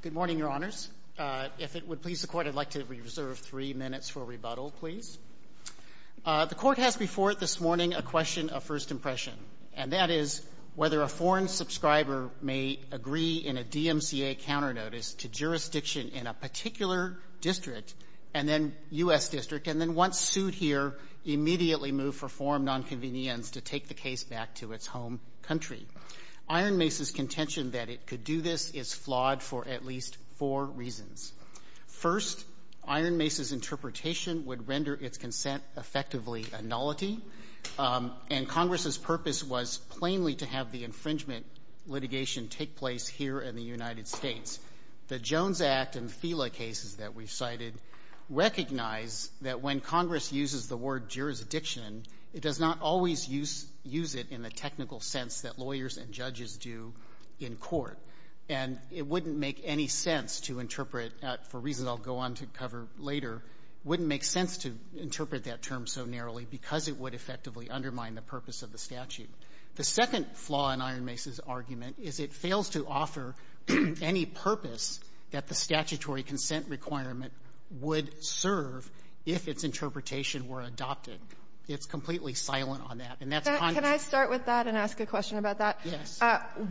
Good morning, Your Honors. If it would please the Court, I'd like to reserve three minutes for rebuttal, please. The Court has before it this morning a question of first impression, and that is whether a foreign subscriber may agree in a DMCA counter-notice to jurisdiction in a particular district, and then U.S. district, and then once sued here, immediately move for foreign nonconvenience to take the case back to its home country. Ironmace's contention that it could do this is flawed for at least four reasons. First, Ironmace's interpretation would render its consent effectively a nullity, and Congress's purpose was plainly to have the infringement litigation take place here in the United States. The Jones Act and FILA cases that we've cited recognize that when Congress uses the word jurisdiction, it does not always use it in the technical sense that lawyers and judges do in court, and it wouldn't make any sense to interpret, for reasons I'll go on to cover later, wouldn't make sense to interpret that term so narrowly because it would effectively undermine the purpose of the statute. The second flaw in Ironmace's argument is it fails to offer any purpose that the statutory consent requirement would serve if its interpretation were adopted. It's completely silent on that, and that's Congress. Can I start with that and ask a question about that?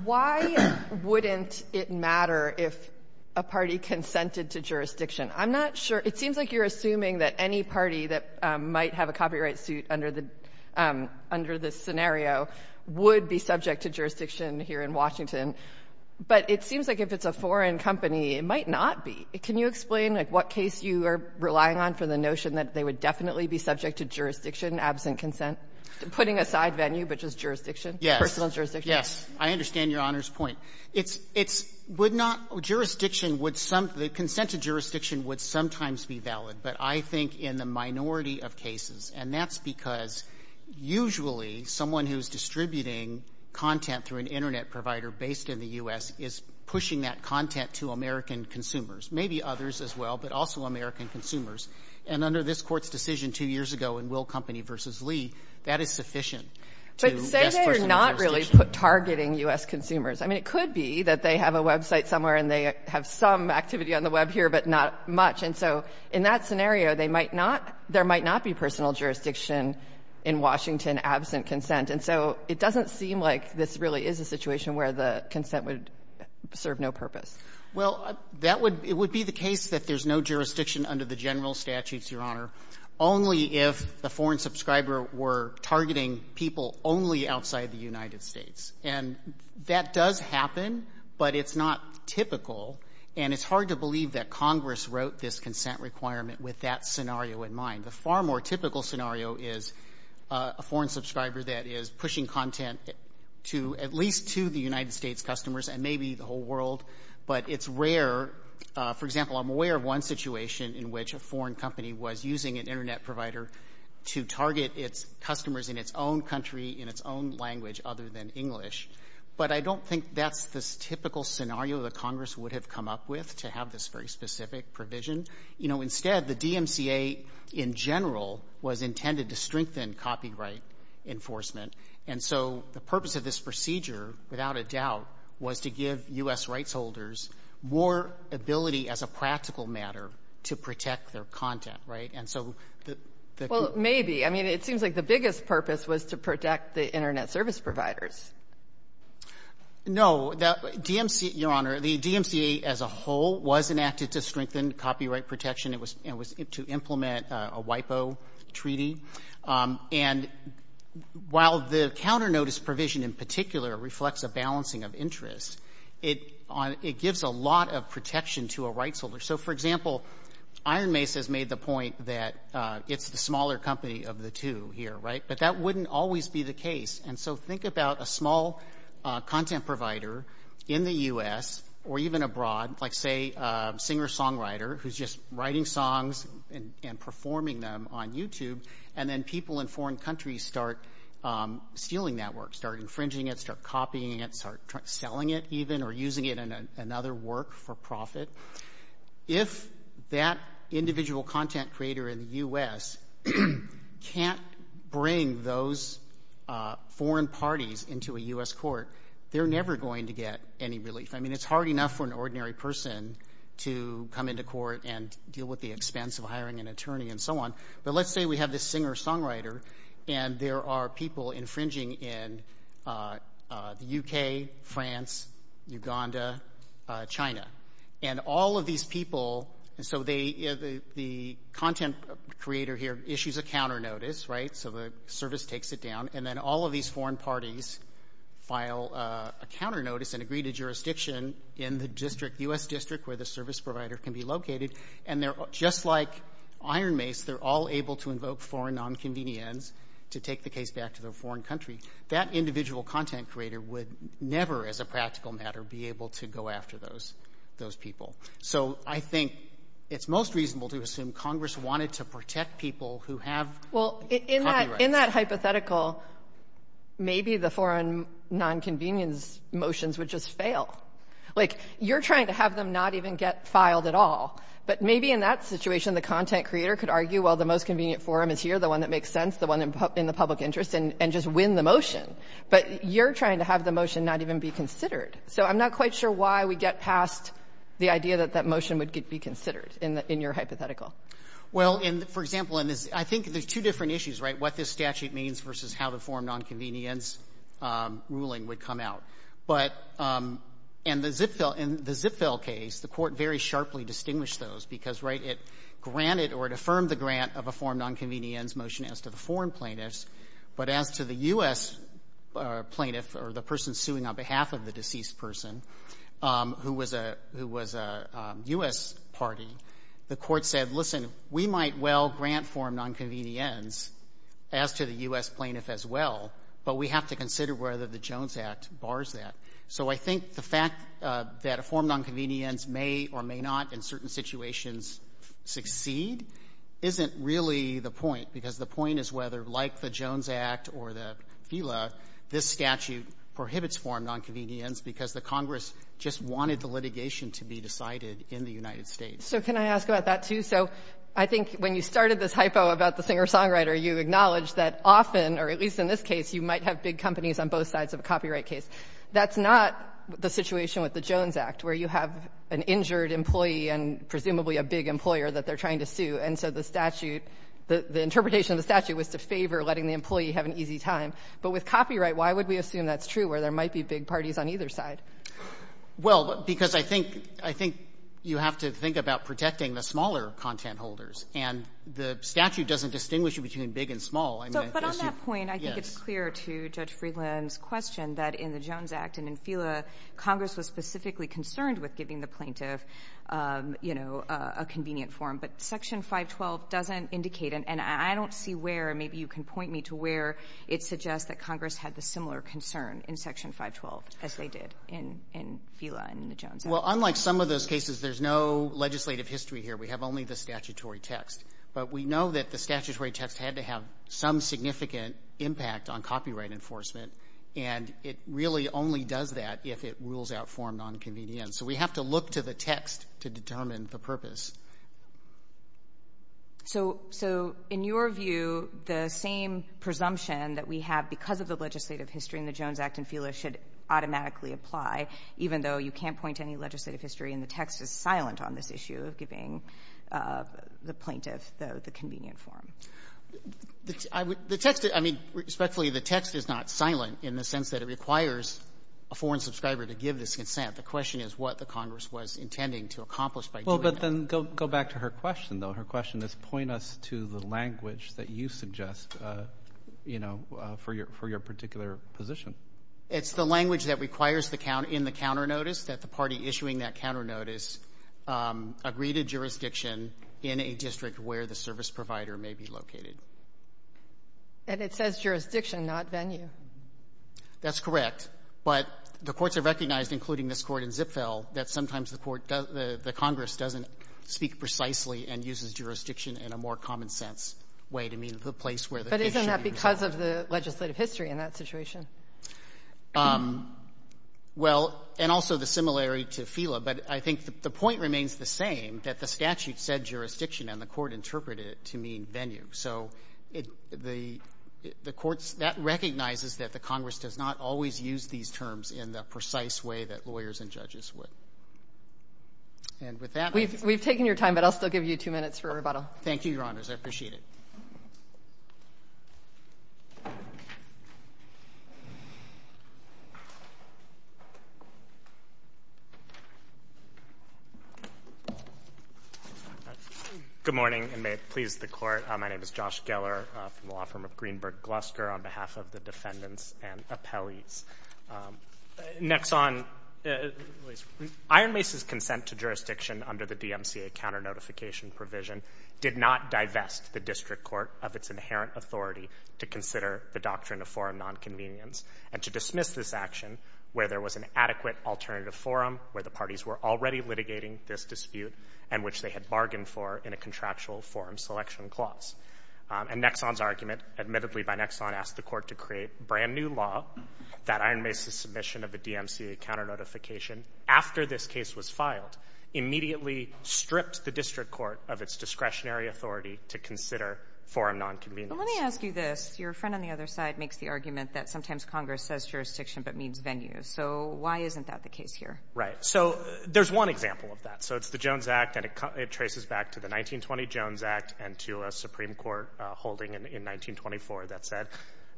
Why wouldn't it matter if a party consented to jurisdiction? I'm not sure. It seems like you're assuming that any party that might have a copyright suit under the scenario would be subject to jurisdiction here in Washington, but it seems like if it's a foreign company, it might not be. Can you explain, like, what case you are relying on for the notion that they would definitely be subject to jurisdiction absent consent? Putting aside venue, but just jurisdiction? Yes. Personal jurisdiction? Yes. I understand Your Honor's point. It's — it's — would not — jurisdiction would — the consent to jurisdiction would sometimes be valid, but I think in the minority of cases, and that's because usually someone who's distributing content through an Internet provider based in the Maybe others as well, but also American consumers. And under this Court's decision two years ago in Will Company v. Lee, that is sufficient to best personal jurisdiction. But say they are not really targeting U.S. consumers. I mean, it could be that they have a website somewhere and they have some activity on the Web here, but not much. And so in that scenario, they might not — there might not be personal jurisdiction in Washington absent consent. And so it doesn't seem like this really is a situation where the consent would serve no purpose. Well, that would — it would be the case that there's no jurisdiction under the general statutes, Your Honor, only if the foreign subscriber were targeting people only outside the United States. And that does happen, but it's not typical. And it's hard to believe that Congress wrote this consent requirement with that scenario in mind. The far more typical scenario is a foreign subscriber that is pushing content to — but it's rare — for example, I'm aware of one situation in which a foreign company was using an Internet provider to target its customers in its own country, in its own language other than English. But I don't think that's the typical scenario that Congress would have come up with to have this very specific provision. You know, instead, the DMCA in general was intended to strengthen copyright enforcement. And so the purpose of this procedure, without a doubt, was to give U.S. rights holders more ability as a practical matter to protect their content, right? And so the — Well, maybe. I mean, it seems like the biggest purpose was to protect the Internet service providers. No. DMCA — Your Honor, the DMCA as a whole was enacted to strengthen copyright protection. It was — it was to implement a WIPO treaty. And while the counter-notice provision in particular reflects a balancing of interests, it gives a lot of protection to a rights holder. So, for example, Iron Mace has made the point that it's the smaller company of the two here, right? But that wouldn't always be the case. And so think about a small content provider in the U.S. or even abroad, like, say, a singer-songwriter who's just writing songs and performing them on YouTube, and then people in foreign countries start stealing that work, start infringing it, start copying it, start selling it, even, or using it in another work for profit. If that individual content creator in the U.S. can't bring those foreign parties into a U.S. court, they're never going to get any relief. I mean, it's hard enough for an ordinary person to come into court and deal with the expense of hiring an attorney and so on. But let's say we have this singer-songwriter and there are people infringing in the U.K., France, Uganda, China. And all of these people, so the content creator here issues a counter-notice, right? So the service takes it down. And then all of these foreign parties file a counter-notice and agree to jurisdiction in the U.S. district where the service provider can be located. And just like Iron Mace, they're all able to invoke foreign nonconvenience to take the case back to their foreign country. That individual content creator would never, as a practical matter, be able to go after those people. So I think it's most reasonable to assume Congress wanted to protect people who have copyrights. Well, in that hypothetical, maybe the foreign nonconvenience motions would just fail. Like, you're trying to have them not even get filed at all. But maybe in that situation, the content creator could argue, well, the most convenient forum is here, the one that makes sense, the one in the public interest, and just win the motion. But you're trying to have the motion not even be considered. So I'm not quite sure why we get past the idea that that motion would be considered in your hypothetical. Well, for example, I think there's two different issues, right, what this statute means versus how the foreign nonconvenience ruling would come out. But in the Zipfell case, the Court very sharply distinguished those because, right, it granted or it affirmed the grant of a foreign nonconvenience motion as to the foreign plaintiffs, but as to the U.S. plaintiff or the person suing on behalf of the deceased person who was a U.S. party, the Court said, listen, we might well grant foreign nonconvenience as to the U.S. plaintiff as well, but we have to consider whether the Jones Act bars that. So I think the fact that a foreign nonconvenience may or may not in certain situations succeed isn't really the point, because the point is whether, like the Jones Act or the FILA, this statute prohibits foreign nonconvenience because the Congress just wanted the litigation to be decided in the United States. So can I ask about that, too? So I think when you started this hypo about the singer-songwriter, you acknowledged that often, or at least in this case, you might have big companies on both sides of a copyright case. That's not the situation with the Jones Act, where you have an injured employee and presumably a big employer that they're trying to sue. And so the statute, the interpretation of the statute was to favor letting the employee have an easy time. But with copyright, why would we assume that's true, where there might be big parties on either side? Well, because I think you have to think about protecting the smaller content holders. And the statute doesn't distinguish between big and small. I mean, I guess you're yes. But on that point, I think it's clear to Judge Freeland's question that in the Jones Act and in FILA, Congress was specifically concerned with giving the plaintiff, you know, a convenient form. But Section 512 doesn't indicate, and I don't see where, and maybe you can point me to where, it suggests that Congress had the similar concern in Section 512 as they did in FILA and in the Jones Act. Well, unlike some of those cases, there's no legislative history here. We have only the statutory text. But we know that the statutory text had to have some significant impact on copyright enforcement, and it really only does that if it rules out form nonconvenience. So we have to look to the text to determine the purpose. So in your view, the same presumption that we have because of the legislative history in the Jones Act and FILA should automatically apply, even though you can't point to any legislative history, and the text is silent on this issue of giving the plaintiff the convenient form. The text, I mean, respectfully, the text is not silent in the sense that it requires a foreign subscriber to give this consent. The question is what the Congress was intending to accomplish by doing that. Well, but then go back to her question, though. Her question is point us to the language that you suggest, you know, for your particular position. It's the language that requires in the counternotice that the party issuing that counternotice agree to jurisdiction in a district where the service provider may be located. And it says jurisdiction, not venue. That's correct. But the courts have recognized, including this Court in Zipfel, that sometimes the court, the Congress doesn't speak precisely and uses jurisdiction in a more common-sense way to mean the place where the case should be resolved. Because of the legislative history in that situation. Well, and also the similarity to Fela. But I think the point remains the same, that the statute said jurisdiction, and the court interpreted it to mean venue. So the courts, that recognizes that the Congress does not always use these terms in the precise way that lawyers and judges would. And with that... We've taken your time, but I'll still give you two minutes for rebuttal. Thank you, Your Honors. I appreciate it. Good morning, and may it please the Court. My name is Josh Geller from the law firm of Greenberg Glusker, on behalf of the defendants and appellees. Next on, Iron Mace's consent to jurisdiction under the DMCA counter-notification provision did not divest the district court of its inherent authority to consider the doctrine of forum nonconvenience, and to dismiss this action where there was an adequate alternative forum, where the parties were already litigating this dispute, and which they had bargained for in a contractual forum selection clause. And Nexon's argument, admittedly by Nexon, asked the court to create brand-new law that Iron Mace's submission of the DMCA counter-notification, after this case was filed, immediately stripped the district court of its discretionary authority to consider forum nonconvenience. But let me ask you this. Your friend on the other side makes the argument that sometimes Congress says jurisdiction, but means venue. So why isn't that the case here? Right. So there's one example of that. So it's the Jones Act, and it traces back to the 1920 Jones Act and to a Supreme Court holding in 1924 that said,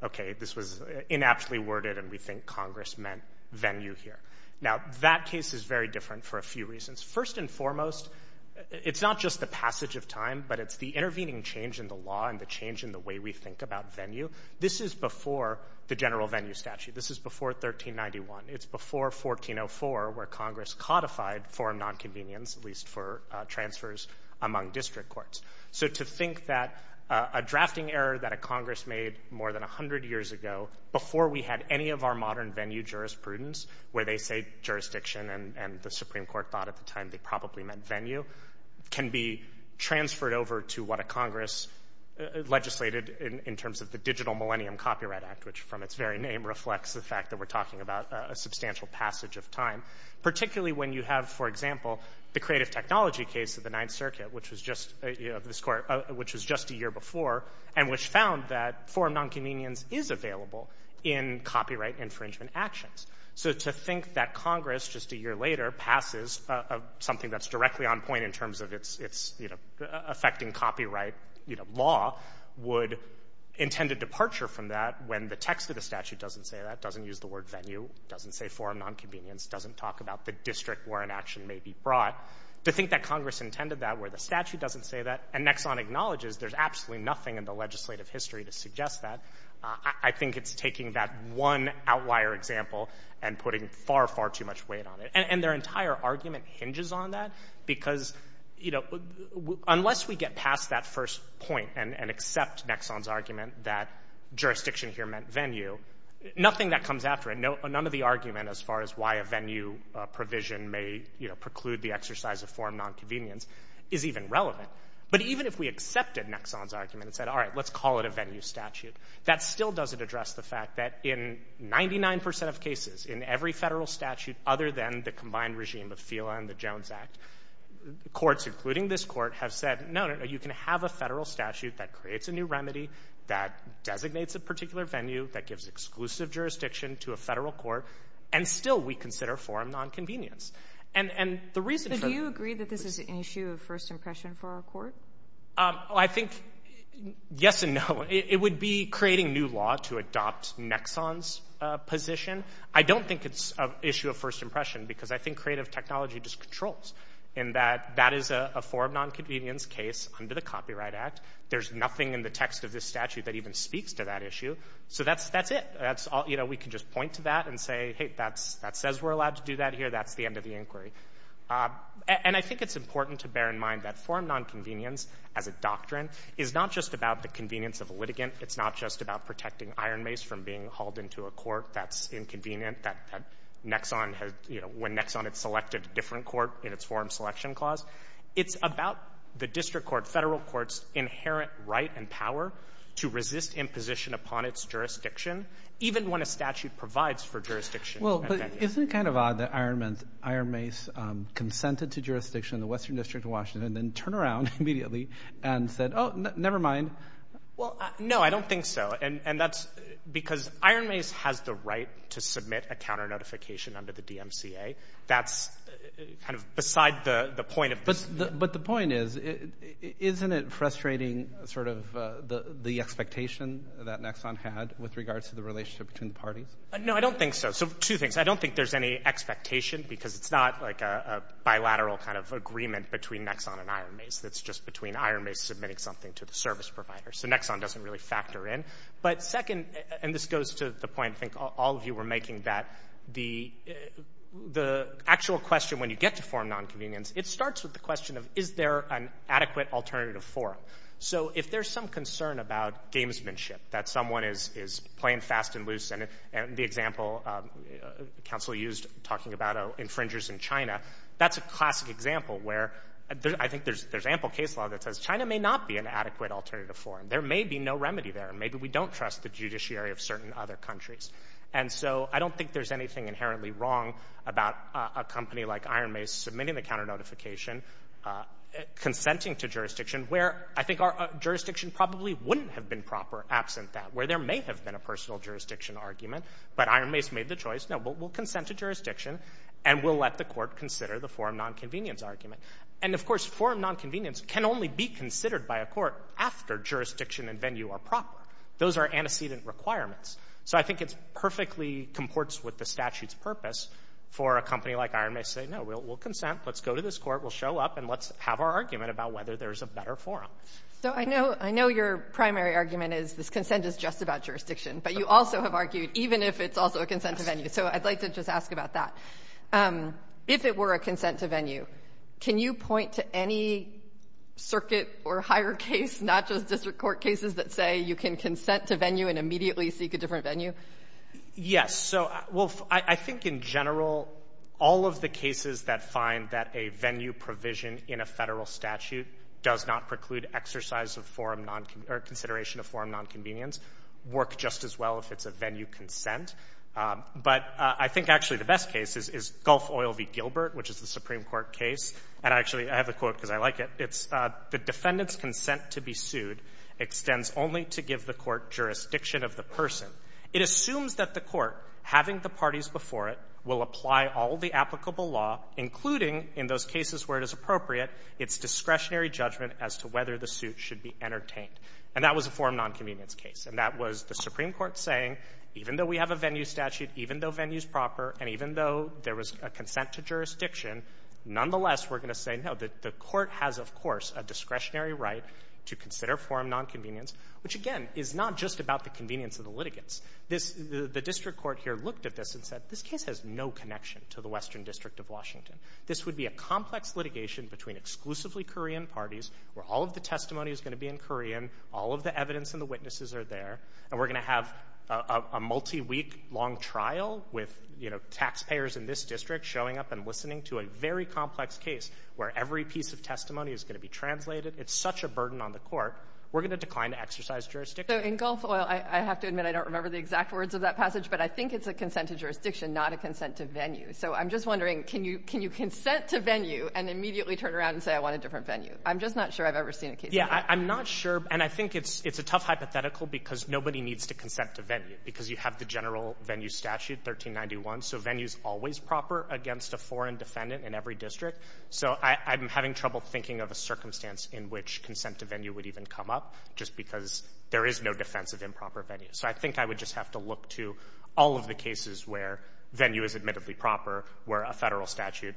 okay, this was inaptly worded, and we think Congress meant venue here. Now, that case is very different for a few reasons. First and foremost, it's not just the passage of time, but it's the intervening change in the law and the change in the way we think about venue. This is before the general venue statute. This is before 1391. It's before 1404, where Congress codified forum nonconvenience, at least for transfers among district courts. So to think that a drafting error that a Congress made more than 100 years ago before we had any of our modern venue jurisprudence, where they say jurisdiction and the Supreme Court thought at the time they probably meant venue, can be transferred over to what a Congress legislated in terms of the Digital Millennium Copyright Act, which from its very name reflects the fact that we're talking about a substantial passage of time. Particularly when you have, for example, the creative technology case of the Ninth Circuit, which was just a year before, and which found that forum nonconvenience is available in copyright infringement actions. So to think that Congress, just a year later, passes something that's directly on point in terms of its affecting copyright law would intend a departure from that when the text of the statute doesn't say that, doesn't use the word venue, doesn't say forum nonconvenience, doesn't talk about the district where an action may be brought. To think that Congress intended that where the statute doesn't say that, and Nexon acknowledges there's absolutely nothing in the legislative history to prove that, I think it's taking that one outlier example and putting far, far too much weight on it. And their entire argument hinges on that because unless we get past that first point and accept Nexon's argument that jurisdiction here meant venue, nothing that comes after it, none of the argument as far as why a venue provision may preclude the exercise of forum nonconvenience is even relevant. But even if we accepted Nexon's argument and said, all right, let's call it a venue, that still doesn't address the fact that in 99% of cases in every federal statute other than the combined regime of FILA and the Jones Act, courts, including this court, have said, no, no, no, you can have a federal statute that creates a new remedy, that designates a particular venue, that gives exclusive jurisdiction to a federal court, and still we consider forum nonconvenience. And the reason for that... But do you agree that this is an issue of first impression for our court? I think yes and no. It would be creating new law to adopt Nexon's position. I don't think it's an issue of first impression because I think creative technology just controls in that that is a forum nonconvenience case under the Copyright Act. There's nothing in the text of this statute that even speaks to that issue. So that's it. We can just point to that and say, hey, that says we're allowed to do that here. That's the end of the inquiry. And I think it's important to bear in mind that forum nonconvenience as a doctrine is not just about the convenience of a litigant. It's not just about protecting Iron Mace from being hauled into a court that's inconvenient, that Nexon has, you know, when Nexon had selected a different court in its forum selection clause. It's about the district court, federal court's inherent right and power to resist imposition upon its jurisdiction, even when a statute provides for jurisdiction and venue. Isn't it kind of odd that Iron Mace consented to jurisdiction in the Western District of Washington and then turned around immediately and said, oh, never mind? Well, no, I don't think so. And that's because Iron Mace has the right to submit a counter notification under the DMCA. That's kind of beside the point of this. But the point is, isn't it frustrating sort of the expectation that Nexon had with regards to the relationship between the parties? No, I don't think so. So two things, I don't think there's any expectation because it's not like a bilateral kind of agreement between Nexon and Iron Mace. It's just between Iron Mace submitting something to the service provider. So Nexon doesn't really factor in. But second, and this goes to the point I think all of you were making, that the actual question when you get to forum nonconvenience, it starts with the question of is there an adequate alternative forum? So if there's some concern about gamesmanship, that someone is playing fast and loose, and the example counsel used talking about infringers in China, that's a classic example where I think there's ample case law that says China may not be an adequate alternative forum. There may be no remedy there. Maybe we don't trust the judiciary of certain other countries. And so I don't think there's anything inherently wrong about a company like Iron Mace submitting the counter notification, consenting to jurisdiction, where I think our jurisdiction probably wouldn't have been proper absent that, where there may have been a personal jurisdiction argument, but Iron Mace made the choice, no, we'll consent to jurisdiction, and we'll let the court consider the forum nonconvenience argument. And, of course, forum nonconvenience can only be considered by a court after jurisdiction and venue are proper. Those are antecedent requirements. So I think it perfectly comports with the statute's purpose for a company like Iron Mace to say, no, we'll consent, let's go to this court, we'll show up, and let's have our argument about whether there's a better forum. So I know your primary argument is this consent is just about jurisdiction, but you also have argued even if it's also a consent to venue. So I'd like to just ask about that. If it were a consent to venue, can you point to any circuit or higher case, not just district court cases, that say you can consent to venue and immediately seek a different venue? Yes. So, well, I think in general, all of the cases that find that a venue provision in a Federal statute does not preclude exercise of forum nonconvenience or consideration of forum nonconvenience work just as well if it's a venue consent. But I think, actually, the best case is Gulf Oil v. Gilbert, which is the Supreme Court case. And, actually, I have a quote because I like it. It's, the defendant's consent to be sued extends only to give the court jurisdiction of the person. It assumes that the court, having the parties before it, will apply all the applicable law, including in those cases where it is appropriate, its discretionary judgment as to whether the suit should be entertained. And that was a forum nonconvenience case. And that was the Supreme Court saying, even though we have a venue statute, even though venue is proper, and even though there was a consent to jurisdiction, nonetheless, we're going to say, no, the court has, of course, a discretionary right to consider forum nonconvenience, which, again, is not just about the convenience of the litigants. This, the district court here looked at this and said, this case has no connection to the Western District of Washington. This would be a complex litigation between exclusively Korean parties where all of the testimony is going to be in Korean, all of the evidence and the witnesses are there, and we're going to have a multi-week long trial with, you know, taxpayers in this district showing up and listening to a very complex case where every piece of testimony is going to be translated. It's such a burden on the court. We're going to decline to exercise jurisdiction. So, in Gulf Oil, I have to admit I don't remember the exact words of that passage, but I think it's a consent to jurisdiction, not a consent to venue. So I'm just wondering, can you consent to venue and immediately turn around and say I want a different venue? I'm just not sure I've ever seen a case like that. I'm not sure, and I think it's a tough hypothetical because nobody needs to consent to venue, because you have the general venue statute, 1391. So venue is always proper against a foreign defendant in every district. So I'm having trouble thinking of a circumstance in which consent to venue would even come up, just because there is no defense of improper venue. So I think I would just have to look to all of the cases where venue is admittedly proper, where a Federal statute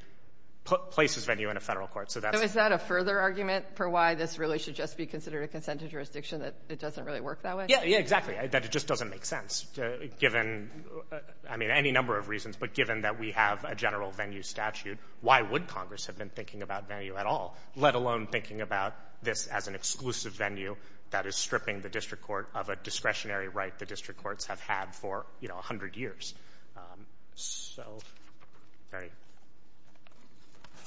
places venue in a Federal court. So that's why. So is that a further argument for why this really should just be considered a consent to jurisdiction, that it doesn't really work that way? Yeah. Yeah, exactly. That it just doesn't make sense, given, I mean, any number of reasons. But given that we have a general venue statute, why would Congress have been thinking about venue at all, let alone thinking about this as an exclusive venue that is stripping the district court of a discretionary right the district courts have had for, you know, a hundred years?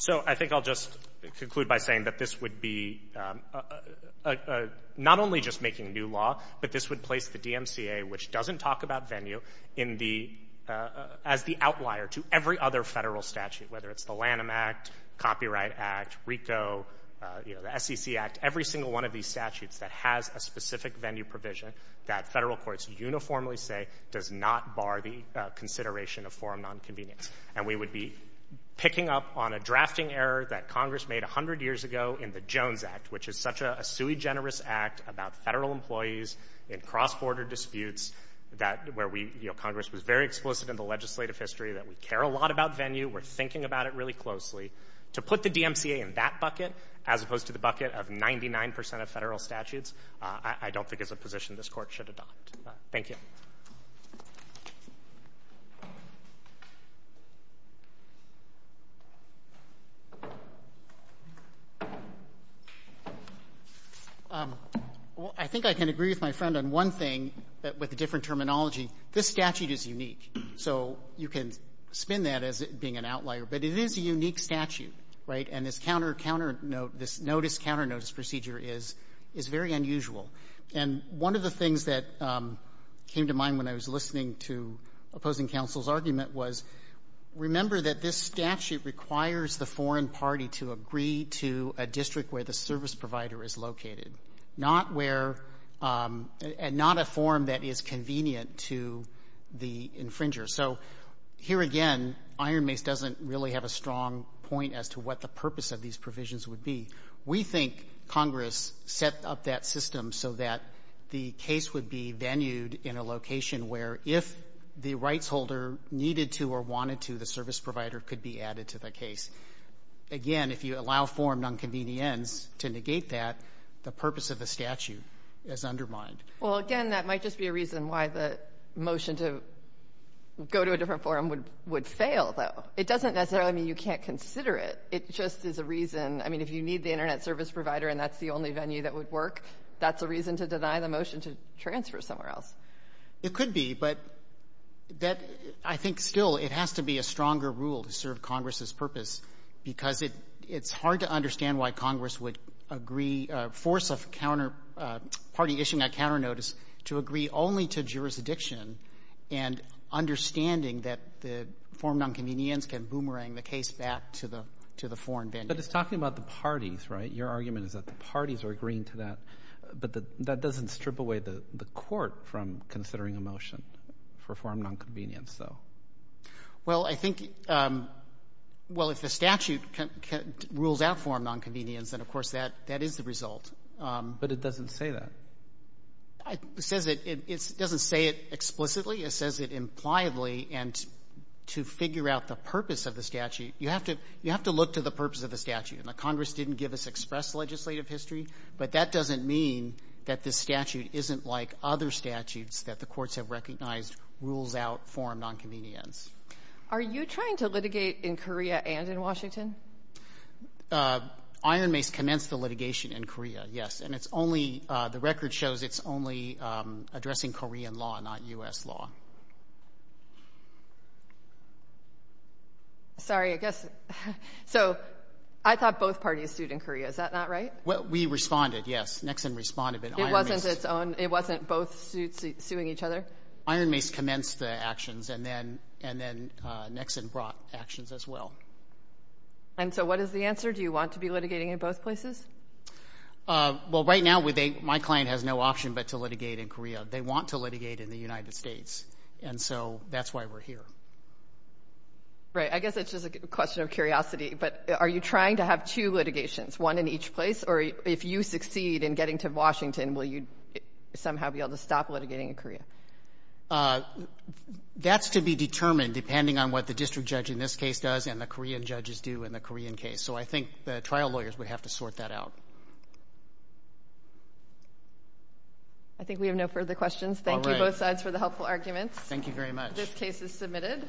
So I think I'll just conclude by saying that this would be not only just making new law, but this would place the DMCA, which doesn't talk about venue, as the outlier to every other Federal statute, whether it's the Lanham Act, Copyright Act, RICO, you know, that has a specific venue provision that Federal courts uniformly say does not bar the consideration of forum nonconvenience. And we would be picking up on a drafting error that Congress made a hundred years ago in the Jones Act, which is such a sui generis act about Federal employees in cross-border disputes that where we, you know, Congress was very explicit in the legislative history that we care a lot about venue, we're thinking about it really closely. To put the DMCA in that bucket, as opposed to the bucket of 99% of Federal statutes, I don't think is a position this court should adopt. Thank you. Well, I think I can agree with my friend on one thing, that with the different terminology, this statute is unique. So, you can spin that as being an outlier, but it is a unique statute, right? And this notice counter notice procedure is very unusual. And one of the things that came to mind when I was listening to opposing counsel's argument was, remember that this statute requires the foreign party to agree to a district where the service provider is located. And not a form that is convenient to the infringer. So, here again, Iron Mace doesn't really have a strong point as to what the purpose of these provisions would be. We think Congress set up that system so that the case would be venued in a location where if the rights holder needed to or wanted to, the service provider could be added to the case. Again, if you allow form nonconvenience to negate that, the purpose of the statute is undermined. Well, again, that might just be a reason why the motion to go to a different forum would fail, though. It doesn't necessarily mean you can't consider it. It just is a reason. I mean, if you need the Internet service provider and that's the only venue that would work, that's a reason to deny the motion to transfer somewhere else. It could be. But I think still it has to be a stronger rule to serve Congress's purpose because it's hard to understand why Congress would agree, force a party issuing a counter notice to agree only to jurisdiction and understanding that the form nonconvenience can boomerang the case back to the foreign venue. But it's talking about the parties, right? Your argument is that the parties are agreeing to that, but that doesn't strip away the court from considering a motion for form nonconvenience, though. Well, I think, well, if the statute rules out form nonconvenience, then, of course, that is the result. But it doesn't say that. It doesn't say it explicitly. It says it impliedly. And to figure out the purpose of the statute, you have to look to the purpose of the Now, Congress didn't give us express legislative history, but that doesn't mean that this statute isn't like other statutes that the courts have recognized rules out form nonconvenience. Are you trying to litigate in Korea and in Washington? Iron Mace commenced the litigation in Korea, yes. And it's only, the record shows it's only addressing Korean law, not U.S. law. Sorry, I guess, so I thought both parties sued in Korea. Is that not right? Well, we responded, yes. Nixon responded, but Iron Mace It wasn't both suits suing each other? Iron Mace commenced the actions, and then Nixon brought actions as well. And so what is the answer? Do you want to be litigating in both places? Well, right now, my client has no option but to litigate in Korea. They want to litigate in the United States, and so that's why we're here. Right. I guess it's just a question of curiosity, but are you trying to have two litigations, one in each place, or if you succeed in getting to Washington, will you somehow be able to stop litigating in Korea? That's to be determined depending on what the district judge in this case does and the Korean judges do in the Korean case. So I think the trial lawyers would have to sort that out. I think we have no further questions. Thank you, both sides, for the helpful arguments. Thank you very much. This case is submitted.